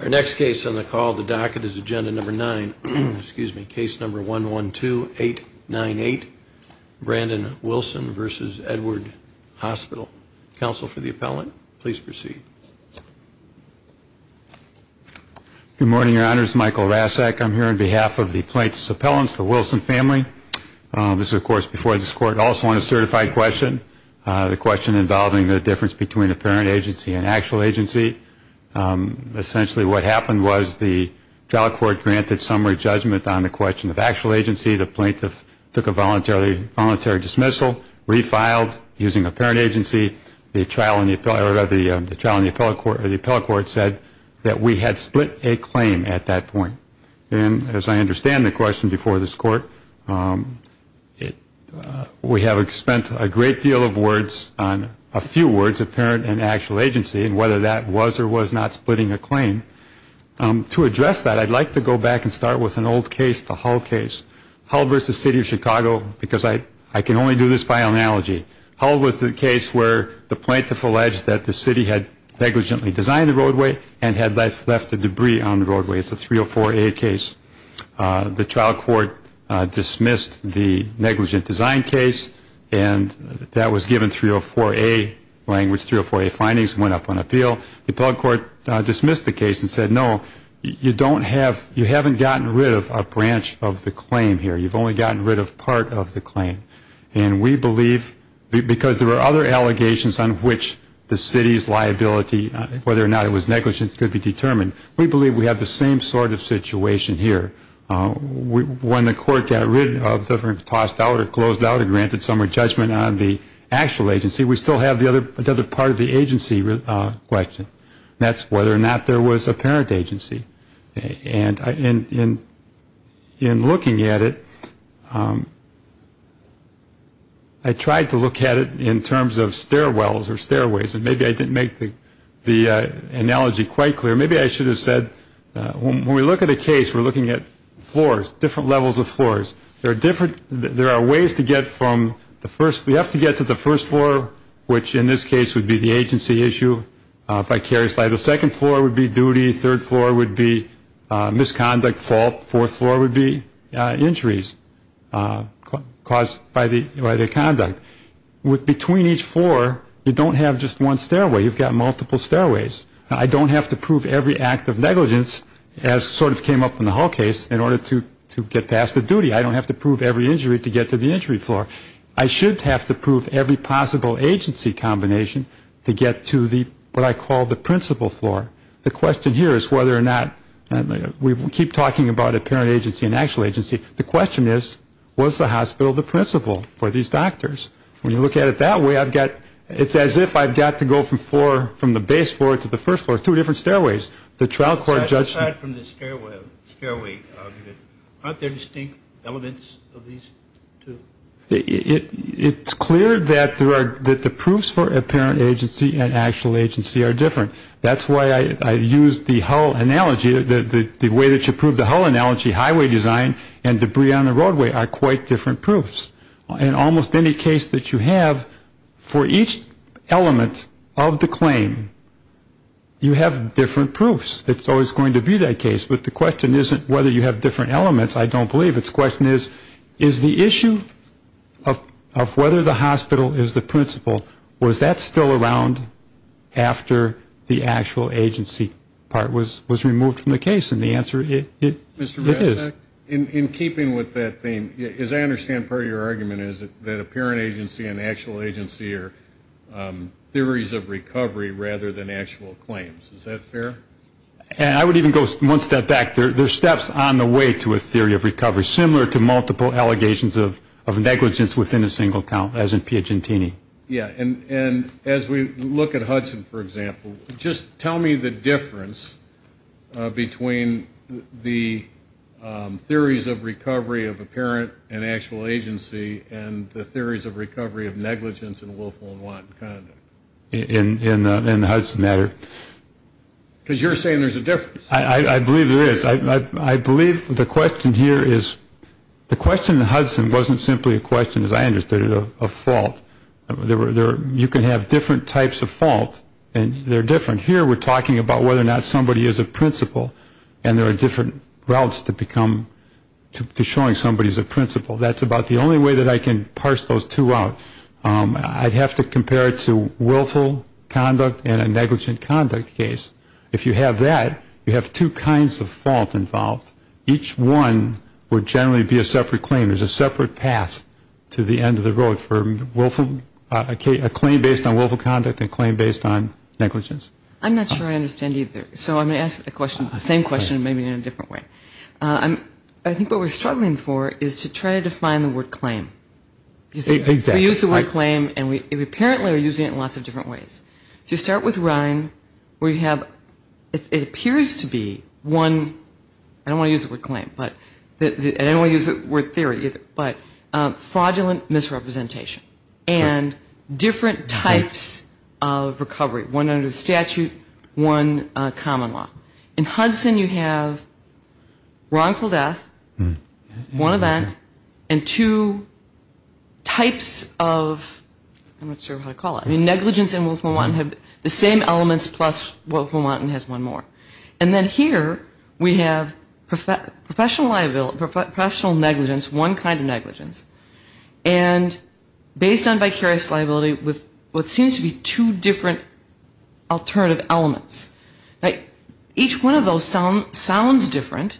Our next case on the call of the docket is agenda number 9, excuse me, case number 112-898, Brandon Wilson v. Edward Hospital. Counsel for the appellant, please proceed. Good morning, your honors. Michael Rasek. I'm here on behalf of the plaintiff's appellants, the Wilson family. This is, of course, before this court, also on a certified question. The question involving the difference between apparent agency and actual agency. Essentially what happened was the trial court granted summary judgment on the question of actual agency. The plaintiff took a voluntary dismissal, refiled using apparent agency. The trial in the appellate court said that we had split a claim at that point. And as I understand the question before this court, we have spent a great deal of words on a few words, apparent and actual agency, and whether that was or was not splitting a claim. To address that, I'd like to go back and start with an old case, the Hull case. Hull v. City of Chicago, because I can only do this by analogy. Hull was the case where the plaintiff alleged that the city had negligently designed the roadway and had left the debris on the roadway. It's a 304A case. The trial court dismissed the negligent design case, and that was given 304A language, 304A findings, and went up on appeal. The appellate court dismissed the case and said, no, you don't have, you haven't gotten rid of a branch of the claim here. You've only gotten rid of part of the claim. And we believe, because there were other allegations on which the city's liability, whether or not it was negligent, could be determined. We believe we have the same sort of situation here. When the court got rid of, tossed out, or closed out a granted summary judgment on the actual agency, we still have another part of the agency question, and that's whether or not there was apparent agency. And in looking at it, I tried to look at it in terms of stairwells or stairways, and maybe I didn't make the analogy quite clear. Maybe I should have said, when we look at a case, we're looking at floors, different levels of floors. There are different, there are ways to get from the first, we have to get to the first floor, which in this case would be the agency issue. If I carry a slide, the second floor would be duty, third floor would be misconduct fault, fourth floor would be injuries caused by the conduct. Between each floor, you don't have just one stairway, you've got multiple stairways. I don't have to prove every act of negligence, as sort of came up in the Hull case, in order to get past the duty. I don't have to prove every injury to get to the entry floor. I should have to prove every possible agency combination to get to what I call the principal floor. The question here is whether or not, we keep talking about apparent agency and actual agency. The question is, was the hospital the principal for these doctors? When you look at it that way, I've got, it's as if I've got to go from the base floor to the first floor, two different stairways. Aside from the stairway argument, aren't there distinct elements of these two? It's clear that the proofs for apparent agency and actual agency are different. That's why I use the Hull analogy, the way that you prove the Hull analogy, highway design and debris on the roadway are quite different proofs. In almost any case that you have, for each element of the claim, you have different proofs. It's always going to be that case. But the question isn't whether you have different elements, I don't believe. The question is, is the issue of whether the hospital is the principal, was that still around after the actual agency part was removed from the case? And the answer is, it is. In keeping with that theme, as I understand part of your argument is that apparent agency and actual agency are theories of recovery rather than actual claims. Is that fair? I would even go one step back. There are steps on the way to a theory of recovery, similar to multiple allegations of negligence within a single account, as in Piagentini. And as we look at Hudson, for example, just tell me the difference between the theories of recovery of apparent and actual agency and the theories of recovery of negligence and willful and wanton conduct. In the Hudson matter. Because you're saying there's a difference. I believe there is. I believe the question here is, the question in Hudson wasn't simply a question, as I understood it, of fault. You can have different types of fault and they're different. Here we're talking about whether or not somebody is a principal and there are different routes to showing somebody is a principal. That's about the only way that I can parse those two out. I'd have to compare it to willful conduct and a negligent conduct case. If you have that, you have two kinds of fault involved. Each one would generally be a separate claim. There's a separate path to the end of the road for a claim based on willful conduct and a claim based on negligence. I'm not sure I understand either. So I'm going to ask the same question maybe in a different way. I think what we're struggling for is to try to define the word claim. We use the word claim and we apparently are using it in lots of different ways. To start with, Ryan, we have, it appears to be one, I don't want to use the word claim, but I don't want to use the word theory either, but fraudulent misrepresentation and different types of recovery, one under the statute, one common law. In Hudson you have wrongful death, one event, and two types of, I'm not sure how to call it, negligence and willful wanton, the same elements plus willful wanton has one more. And then here we have professional negligence, one kind of negligence, and based on vicarious liability with what seems to be two different alternative elements. Each one of those sounds different.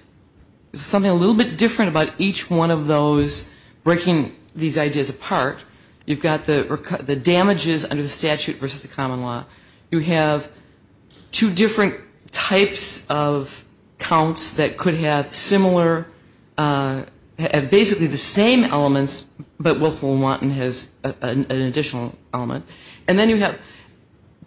There's something a little bit different about each one of those breaking these ideas apart. You've got the damages under the statute versus the common law. You have two different types of counts that could have similar, basically the same elements, but willful wanton has an additional element. And then you have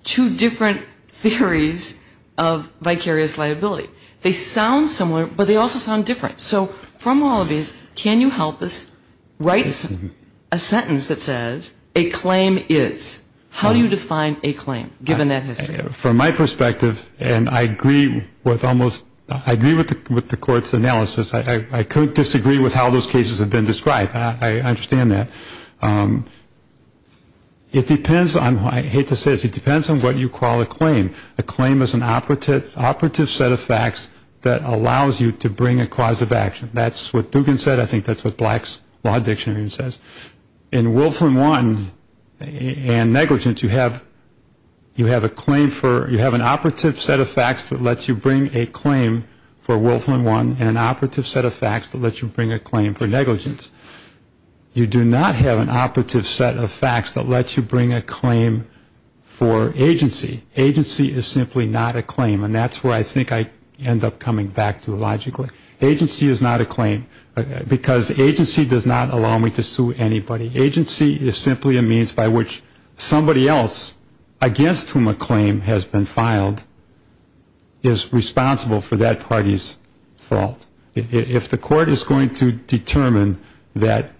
two different theories of vicarious liability. They sound similar, but they also sound different. So from all of these, can you help us write a sentence that says, a claim is. How do you define a claim, given that history? From my perspective, and I agree with almost, I agree with the court's analysis. I could disagree with how those cases have been described. I understand that. It depends on, I hate to say this, it depends on what you call a claim. A claim is an operative set of facts that allows you to bring a cause of action. That's what Dugan said. I think that's what Black's Law Dictionary says. In willful and wanton and negligence, you have a claim for, you have an operative set of facts that lets you bring a claim for willful and wanton and an operative set of facts that lets you bring a claim for negligence. You do not have an operative set of facts that lets you bring a claim for agency. Agency is simply not a claim, and that's where I think I end up coming back to logically. Agency is not a claim because agency does not allow me to sue anybody. Agency is simply a means by which somebody else against whom a claim has been filed is responsible for that party's fault. If the court is going to determine that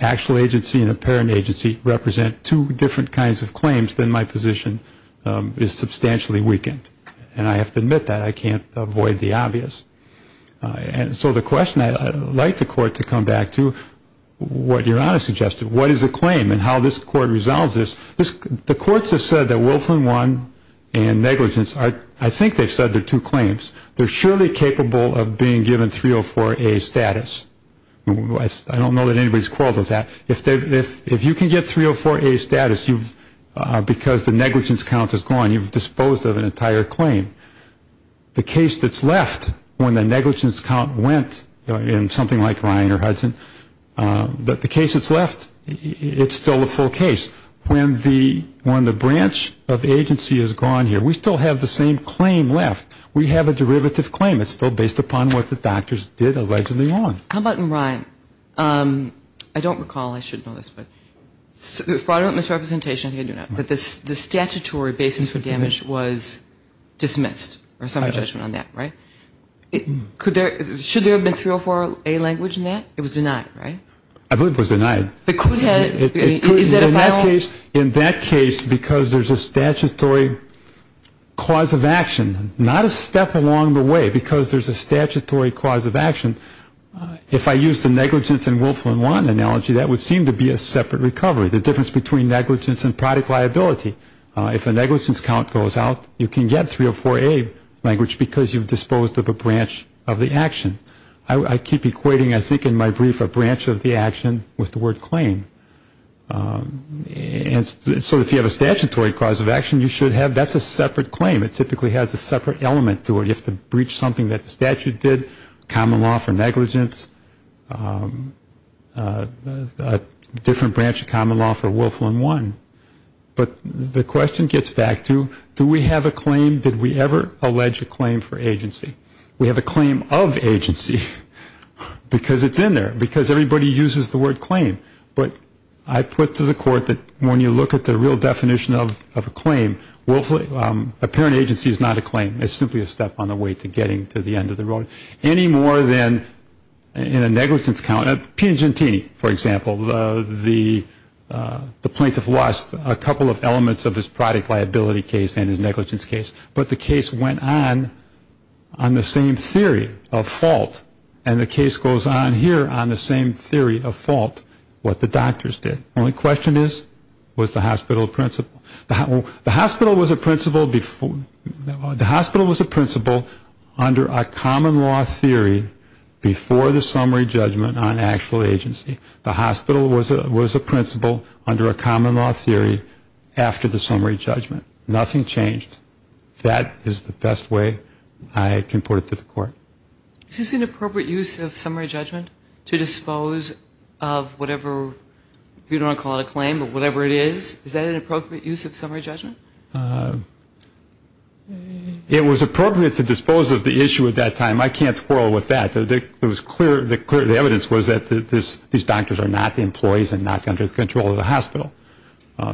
actual agency and apparent agency represent two different kinds of claims, then my position is substantially weakened, and I have to admit that. I can't avoid the obvious. And so the question I'd like the court to come back to, what your Honor suggested, what is a claim and how this court resolves this. The courts have said that willful and wanton and negligence, I think they've said they're two claims. They're surely capable of being given 304A status. I don't know that anybody's quarreled with that. If you can get 304A status because the negligence count is gone, you've disposed of an entire claim. The case that's left when the negligence count went in something like Ryan or Hudson, the case that's left, it's still a full case. When the branch of agency is gone here, we still have the same claim left. We have a derivative claim. It's still based upon what the doctors did allegedly wrong. How about in Ryan? I don't recall, I should know this, but fraudulent misrepresentation, but the statutory basis for damage was dismissed or some judgment on that, right? Should there have been 304A language in that? It was denied, right? I believe it was denied. In that case, because there's a statutory cause of action, not a step along the way, because there's a statutory cause of action, if I use the negligence and willful and wanton analogy, that would seem to be a separate recovery. The difference between negligence and product liability, if a negligence count goes out, you can get 304A language because you've disposed of a branch of the action. I keep equating, I think, in my brief, a branch of the action with the word claim. And so if you have a statutory cause of action, you should have, that's a separate claim. It typically has a separate element to it. You have to breach something that the statute did, common law for negligence, a different branch of common law for willful and wanton. But the question gets back to do we have a claim, did we ever allege a claim for agency? We have a claim of agency because it's in there, because everybody uses the word claim. But I put to the court that when you look at the real definition of a claim, a parent agency is not a claim. It's simply a step on the way to getting to the end of the road. Any more than in a negligence count, Pugentini, for example, the plaintiff lost a couple of elements of his product liability case and his negligence case. But the case went on on the same theory of fault, and the case goes on here on the same theory of fault, what the doctors did. The only question is, was the hospital principled? The hospital was a principled under a common law theory before the summary judgment on actual agency. The hospital was a principled under a common law theory after the summary judgment. Nothing changed. That is the best way I can put it to the court. Is this an appropriate use of summary judgment to dispose of whatever, you don't want to call it a claim, but whatever it is? Is that an appropriate use of summary judgment? It was appropriate to dispose of the issue at that time. I can't quarrel with that. The evidence was that these doctors are not the employees and not under the control of the hospital.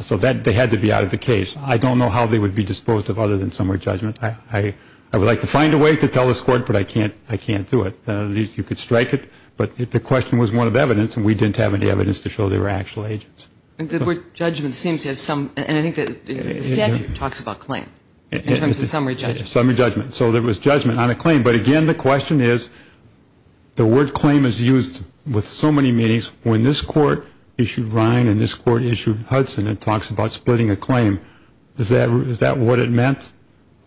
So they had to be out of the case. I don't know how they would be disposed of other than summary judgment. I would like to find a way to tell this court, but I can't do it. At least you could strike it. But the question was one of evidence, and we didn't have any evidence to show they were actual agents. The word judgment seems to have some, and I think the statute talks about claim in terms of summary judgment. Summary judgment. So there was judgment on a claim. But, again, the question is, the word claim is used with so many meanings. When this court issued Rhine and this court issued Hudson, it talks about splitting a claim. Is that what it meant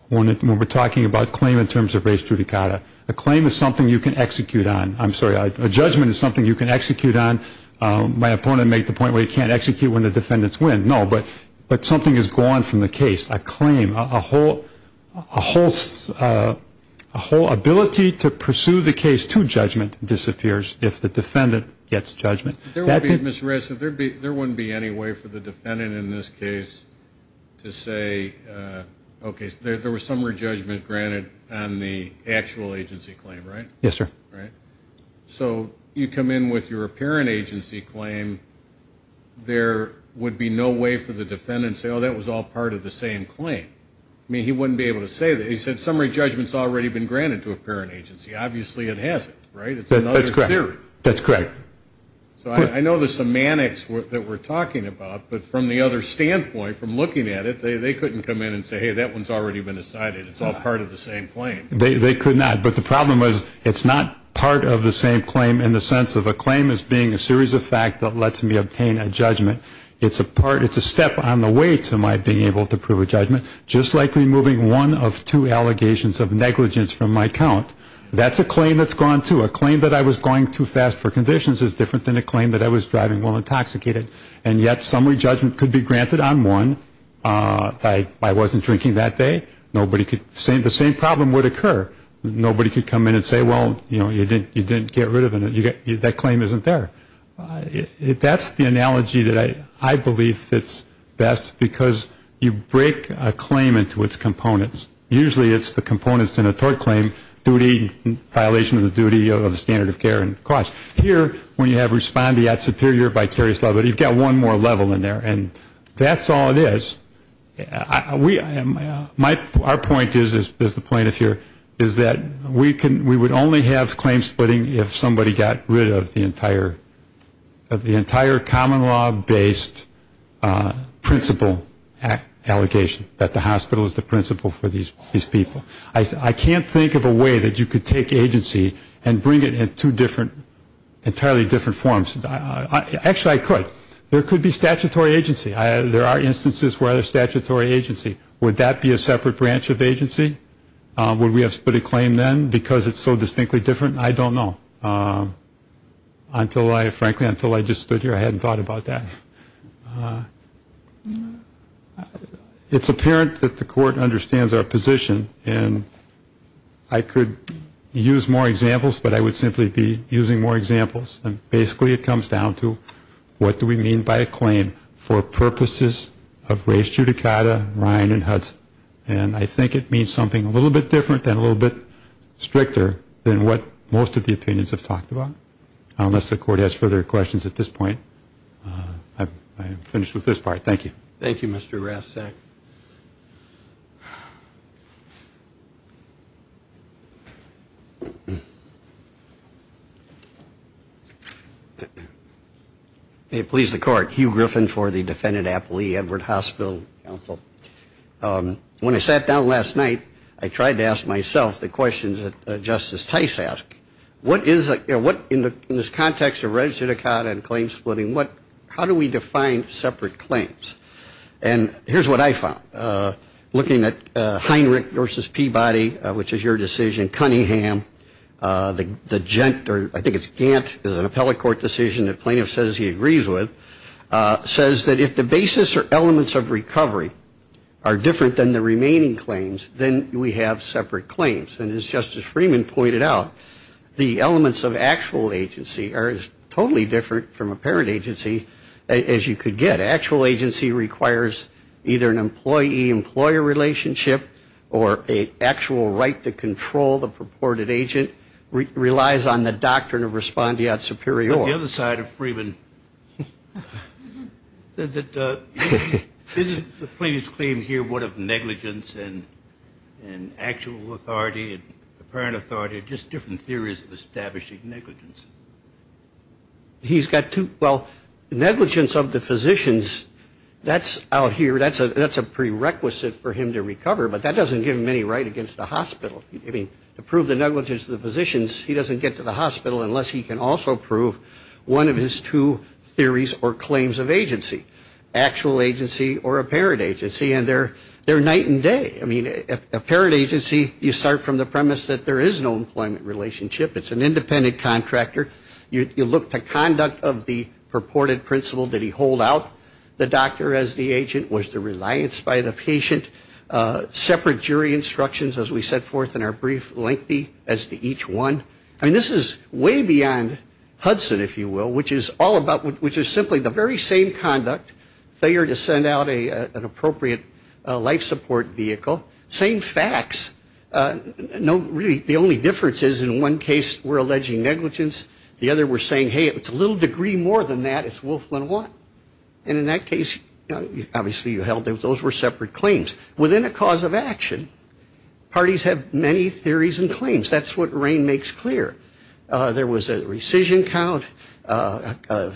when we're talking about claim in terms of res judicata? A claim is something you can execute on. I'm sorry. A judgment is something you can execute on. My opponent made the point where you can't execute when the defendants win. No, but something is gone from the case. A claim, a whole ability to pursue the case to judgment disappears if the defendant gets judgment. Ms. Ressa, there wouldn't be any way for the defendant in this case to say, okay, there was summary judgment granted on the actual agency claim, right? Yes, sir. Right? So you come in with your apparent agency claim. There would be no way for the defendant to say, oh, that was all part of the same claim. I mean, he wouldn't be able to say that. He said summary judgment has already been granted to apparent agency. Obviously it hasn't, right? That's correct. It's another theory. That's correct. So I know the semantics that we're talking about, but from the other standpoint, from looking at it, they couldn't come in and say, hey, that one's already been decided. It's all part of the same claim. They could not. But the problem is it's not part of the same claim in the sense of a claim as being a series of facts that lets me obtain a judgment. It's a step on the way to my being able to prove a judgment, just like removing one of two allegations of negligence from my count. That's a claim that's gone, too. A claim that I was going too fast for conditions is different than a claim that I was driving while intoxicated, and yet summary judgment could be granted on one. I wasn't drinking that day. The same problem would occur. Nobody could come in and say, well, you didn't get rid of it. That claim isn't there. That's the analogy that I believe fits best because you break a claim into its components. Usually it's the components in a tort claim, duty, violation of the duty of the standard of care and cost. Here, when you have respondeat superior vicarious law, but you've got one more level in there. And that's all it is. Our point is, as the plaintiff here, is that we would only have claim splitting if somebody got rid of the entire common law-based principal allegation, that the hospital is the principal for these people. I can't think of a way that you could take agency and bring it in two entirely different forms. Actually, I could. There could be statutory agency. There are instances where there's statutory agency. Would that be a separate branch of agency? Would we have split a claim then because it's so distinctly different? I don't know. Frankly, until I just stood here, I hadn't thought about that. It's apparent that the court understands our position, and I could use more examples, but I would simply be using more examples. And basically it comes down to what do we mean by a claim for purposes of race judicata, Ryan and Hudson? And I think it means something a little bit different and a little bit stricter than what most of the opinions of the court have just talked about, unless the court has further questions at this point. I am finished with this part. Thank you. Thank you, Mr. Rastak. May it please the Court, Hugh Griffin for the defendant, Applee, Edward Hospital Counsel. When I sat down last night, I tried to ask myself the questions that Justice Tice asked. In this context of registered judicata and claim splitting, how do we define separate claims? And here's what I found. Looking at Heinrich versus Peabody, which is your decision, Cunningham, the Gantt, I think it's Gantt, is an appellate court decision that plaintiff says he agrees with, says that if the basis or elements of recovery are different than the remaining claims, then we have separate claims. And as Justice Freeman pointed out, the elements of actual agency are totally different from apparent agency, as you could get. Actual agency requires either an employee-employer relationship or an actual right to control the purported agent, which relies on the doctrine of respondeat superior. On the other side of Freeman, isn't the plaintiff's claim here one of negligence and actual authority and apparent authority, just different theories of establishing negligence? He's got two. Well, negligence of the physicians, that's out here, that's a prerequisite for him to recover, but that doesn't give him any right against the hospital. I mean, to prove the negligence of the physicians, he doesn't get to the hospital unless he can also prove one of his two theories or claims of agency, actual agency or apparent agency, and they're night and day. I mean, apparent agency, you start from the premise that there is no employment relationship. It's an independent contractor. You look to conduct of the purported principle that he hold out the doctor as the agent, was the reliance by the patient, separate jury instructions, as we set forth in our brief, lengthy as to each one. I mean, this is way beyond Hudson, if you will, which is all about, which is simply the very same conduct, failure to send out an appropriate life support vehicle, same facts. No, really, the only difference is in one case we're alleging negligence, the other we're saying, hey, it's a little degree more than that, it's wolf one one. And in that case, obviously, you held those were separate claims. Within a cause of action, parties have many theories and claims. That's what Rain makes clear. There was a rescission count, a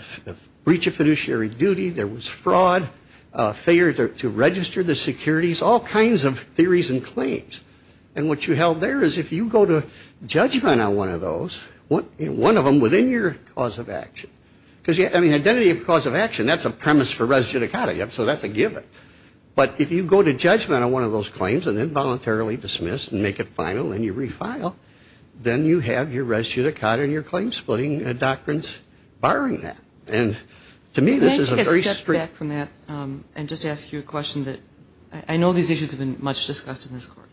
breach of fiduciary duty. There was fraud, failure to register the securities, all kinds of theories and claims. And what you held there is if you go to judgment on one of those, one of them within your cause of action, because, I mean, identity of cause of action, that's a premise for res judicata, so that's a given. But if you go to judgment on one of those claims and involuntarily dismiss and make it final and you refile, then you have your res judicata and your claim splitting doctrines barring that. And to me, this is a very strict. Can I take a step back from that and just ask you a question that I know these issues have been much discussed in this court.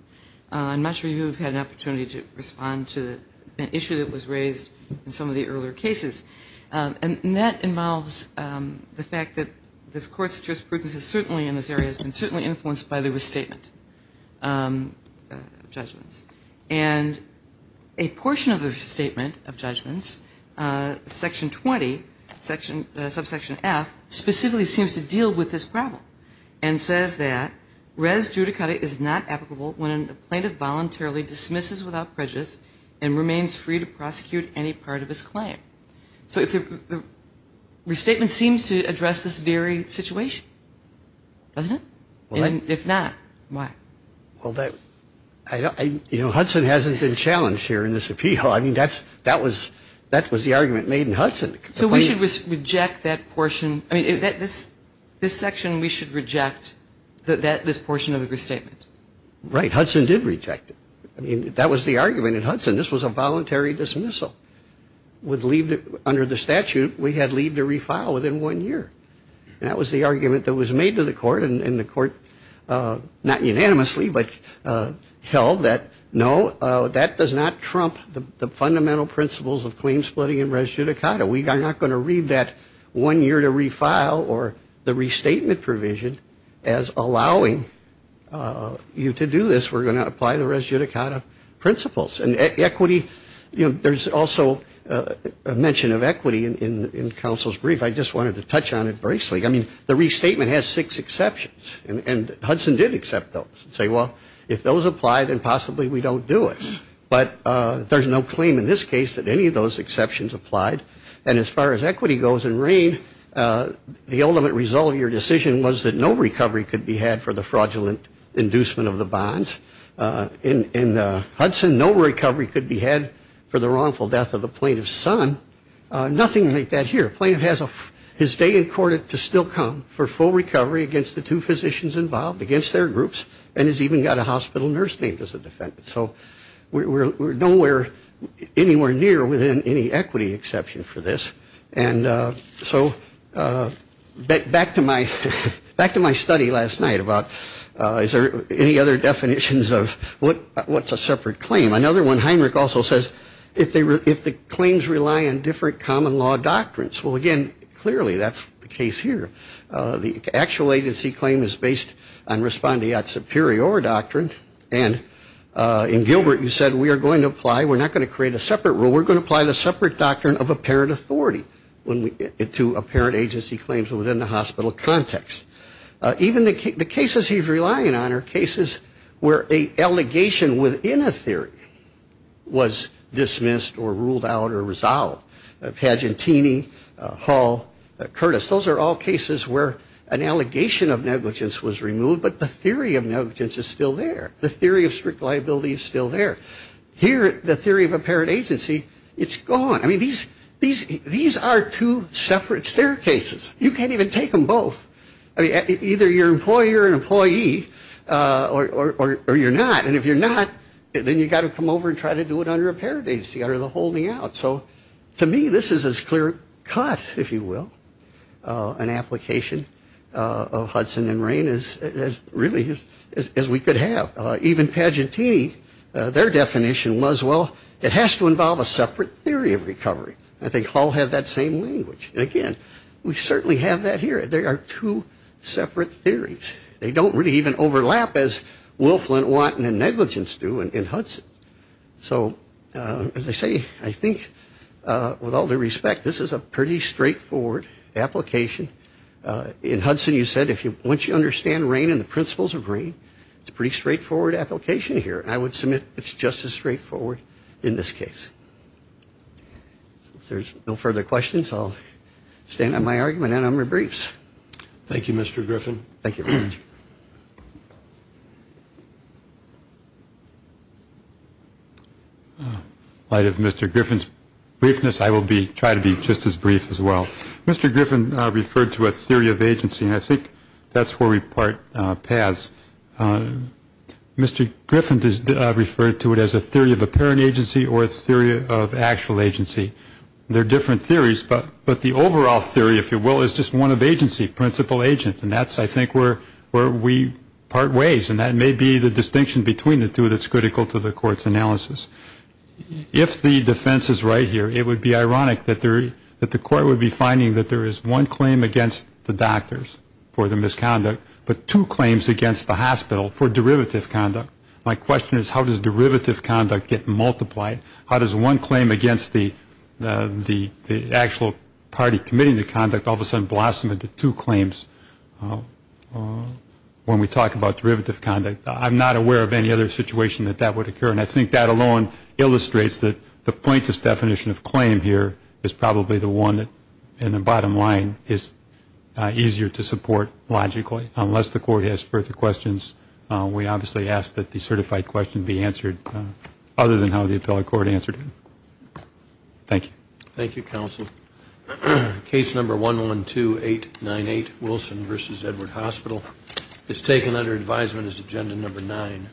I'm not sure you've had an opportunity to respond to an issue that was raised in some of the earlier cases. And that involves the fact that this court's jurisprudence is certainly in this area, has been certainly influenced by the restatement of judgments. And a portion of the restatement of judgments, Section 20, subsection F, specifically seems to deal with this problem and says that res judicata is not applicable when a plaintiff voluntarily dismisses without prejudice and remains free to prosecute any part of his claim. So the restatement seems to address this very situation, doesn't it? And if not, why? Well, you know, Hudson hasn't been challenged here in this appeal. I mean, that was the argument made in Hudson. So we should reject that portion. I mean, this section, we should reject this portion of the restatement. Right. Hudson did reject it. I mean, that was the argument in Hudson. This was a voluntary dismissal. Under the statute, we had leave to refile within one year. And that was the argument that was made to the court. And the court, not unanimously, but held that, no, that does not trump the fundamental principles of claim splitting and res judicata. We are not going to read that one year to refile or the restatement provision as allowing you to do this. We're going to apply the res judicata principles. And equity, you know, there's also a mention of equity in counsel's brief. I just wanted to touch on it briefly. I mean, the restatement has six exceptions. And Hudson did accept those and say, well, if those apply, then possibly we don't do it. But there's no claim in this case that any of those exceptions applied. And as far as equity goes in rain, the ultimate result of your decision was that no recovery could be had for the fraudulent inducement of the bonds. In Hudson, no recovery could be had for the wrongful death of the plaintiff's son. Nothing like that here. A plaintiff has his day in court to still come for full recovery against the two physicians involved, against their groups, and has even got a hospital nurse named as a defendant. So we're nowhere, anywhere near within any equity exception for this. And so back to my study last night about is there any other definitions of what's a separate claim. Another one, Heinrich also says, if the claims rely on different common law doctrines. Well, again, clearly that's the case here. The actual agency claim is based on respondeat superior doctrine. And in Gilbert, you said we are going to apply, we're not going to create a separate rule, we're going to apply the separate doctrine of apparent authority to apparent agency claims within the hospital context. Even the cases he's relying on are cases where an allegation within a theory was dismissed or ruled out or resolved. Pagentini, Hall, Curtis, those are all cases where an allegation of negligence was removed, but the theory of negligence is still there. The theory of strict liability is still there. Here, the theory of apparent agency, it's gone. I mean, these are two separate staircases. You can't even take them both. Either you're an employer or an employee or you're not. And if you're not, then you've got to come over and try to do it under apparent agency, under the holding out. So to me, this is as clear cut, if you will, an application of Hudson and Rain as really as we could have. Even Pagentini, their definition was, well, it has to involve a separate theory of recovery. I think Hall had that same language. And again, we certainly have that here. There are two separate theories. They don't really even overlap as Wilflin, Watten, and negligence do in Hudson. So as I say, I think with all due respect, this is a pretty straightforward application. In Hudson, you said once you understand Rain and the principles of Rain, it's a pretty straightforward application here. I would submit it's just as straightforward in this case. If there's no further questions, I'll stand on my argument and on my briefs. Thank you, Mr. Griffin. Thank you. In light of Mr. Griffin's briefness, I will try to be just as brief as well. Mr. Griffin referred to a theory of agency, and I think that's where we part paths. Mr. Griffin referred to it as a theory of apparent agency or a theory of actual agency. They're different theories, but the overall theory, if you will, is just one of agency, principal agent. And that's, I think, where we part ways. And that may be the distinction between the two that's critical to the Court's analysis. If the defense is right here, it would be ironic that the Court would be finding that there is one claim against the doctors for the misconduct, but two claims against the hospital for derivative conduct. My question is, how does derivative conduct get multiplied? How does one claim against the actual party committing the conduct all of a sudden blossom into two claims when we talk about derivative conduct? I'm not aware of any other situation that that would occur, and I think that alone illustrates that the plaintiff's definition of claim here is probably the one that, in the bottom line, is easier to support logically, unless the Court has further questions. We obviously ask that the certified question be answered other than how the appellate court answered it. Thank you. Thank you, counsel. Case number 112898, Wilson v. Edward Hospital, is taken under advisement as agenda number nine.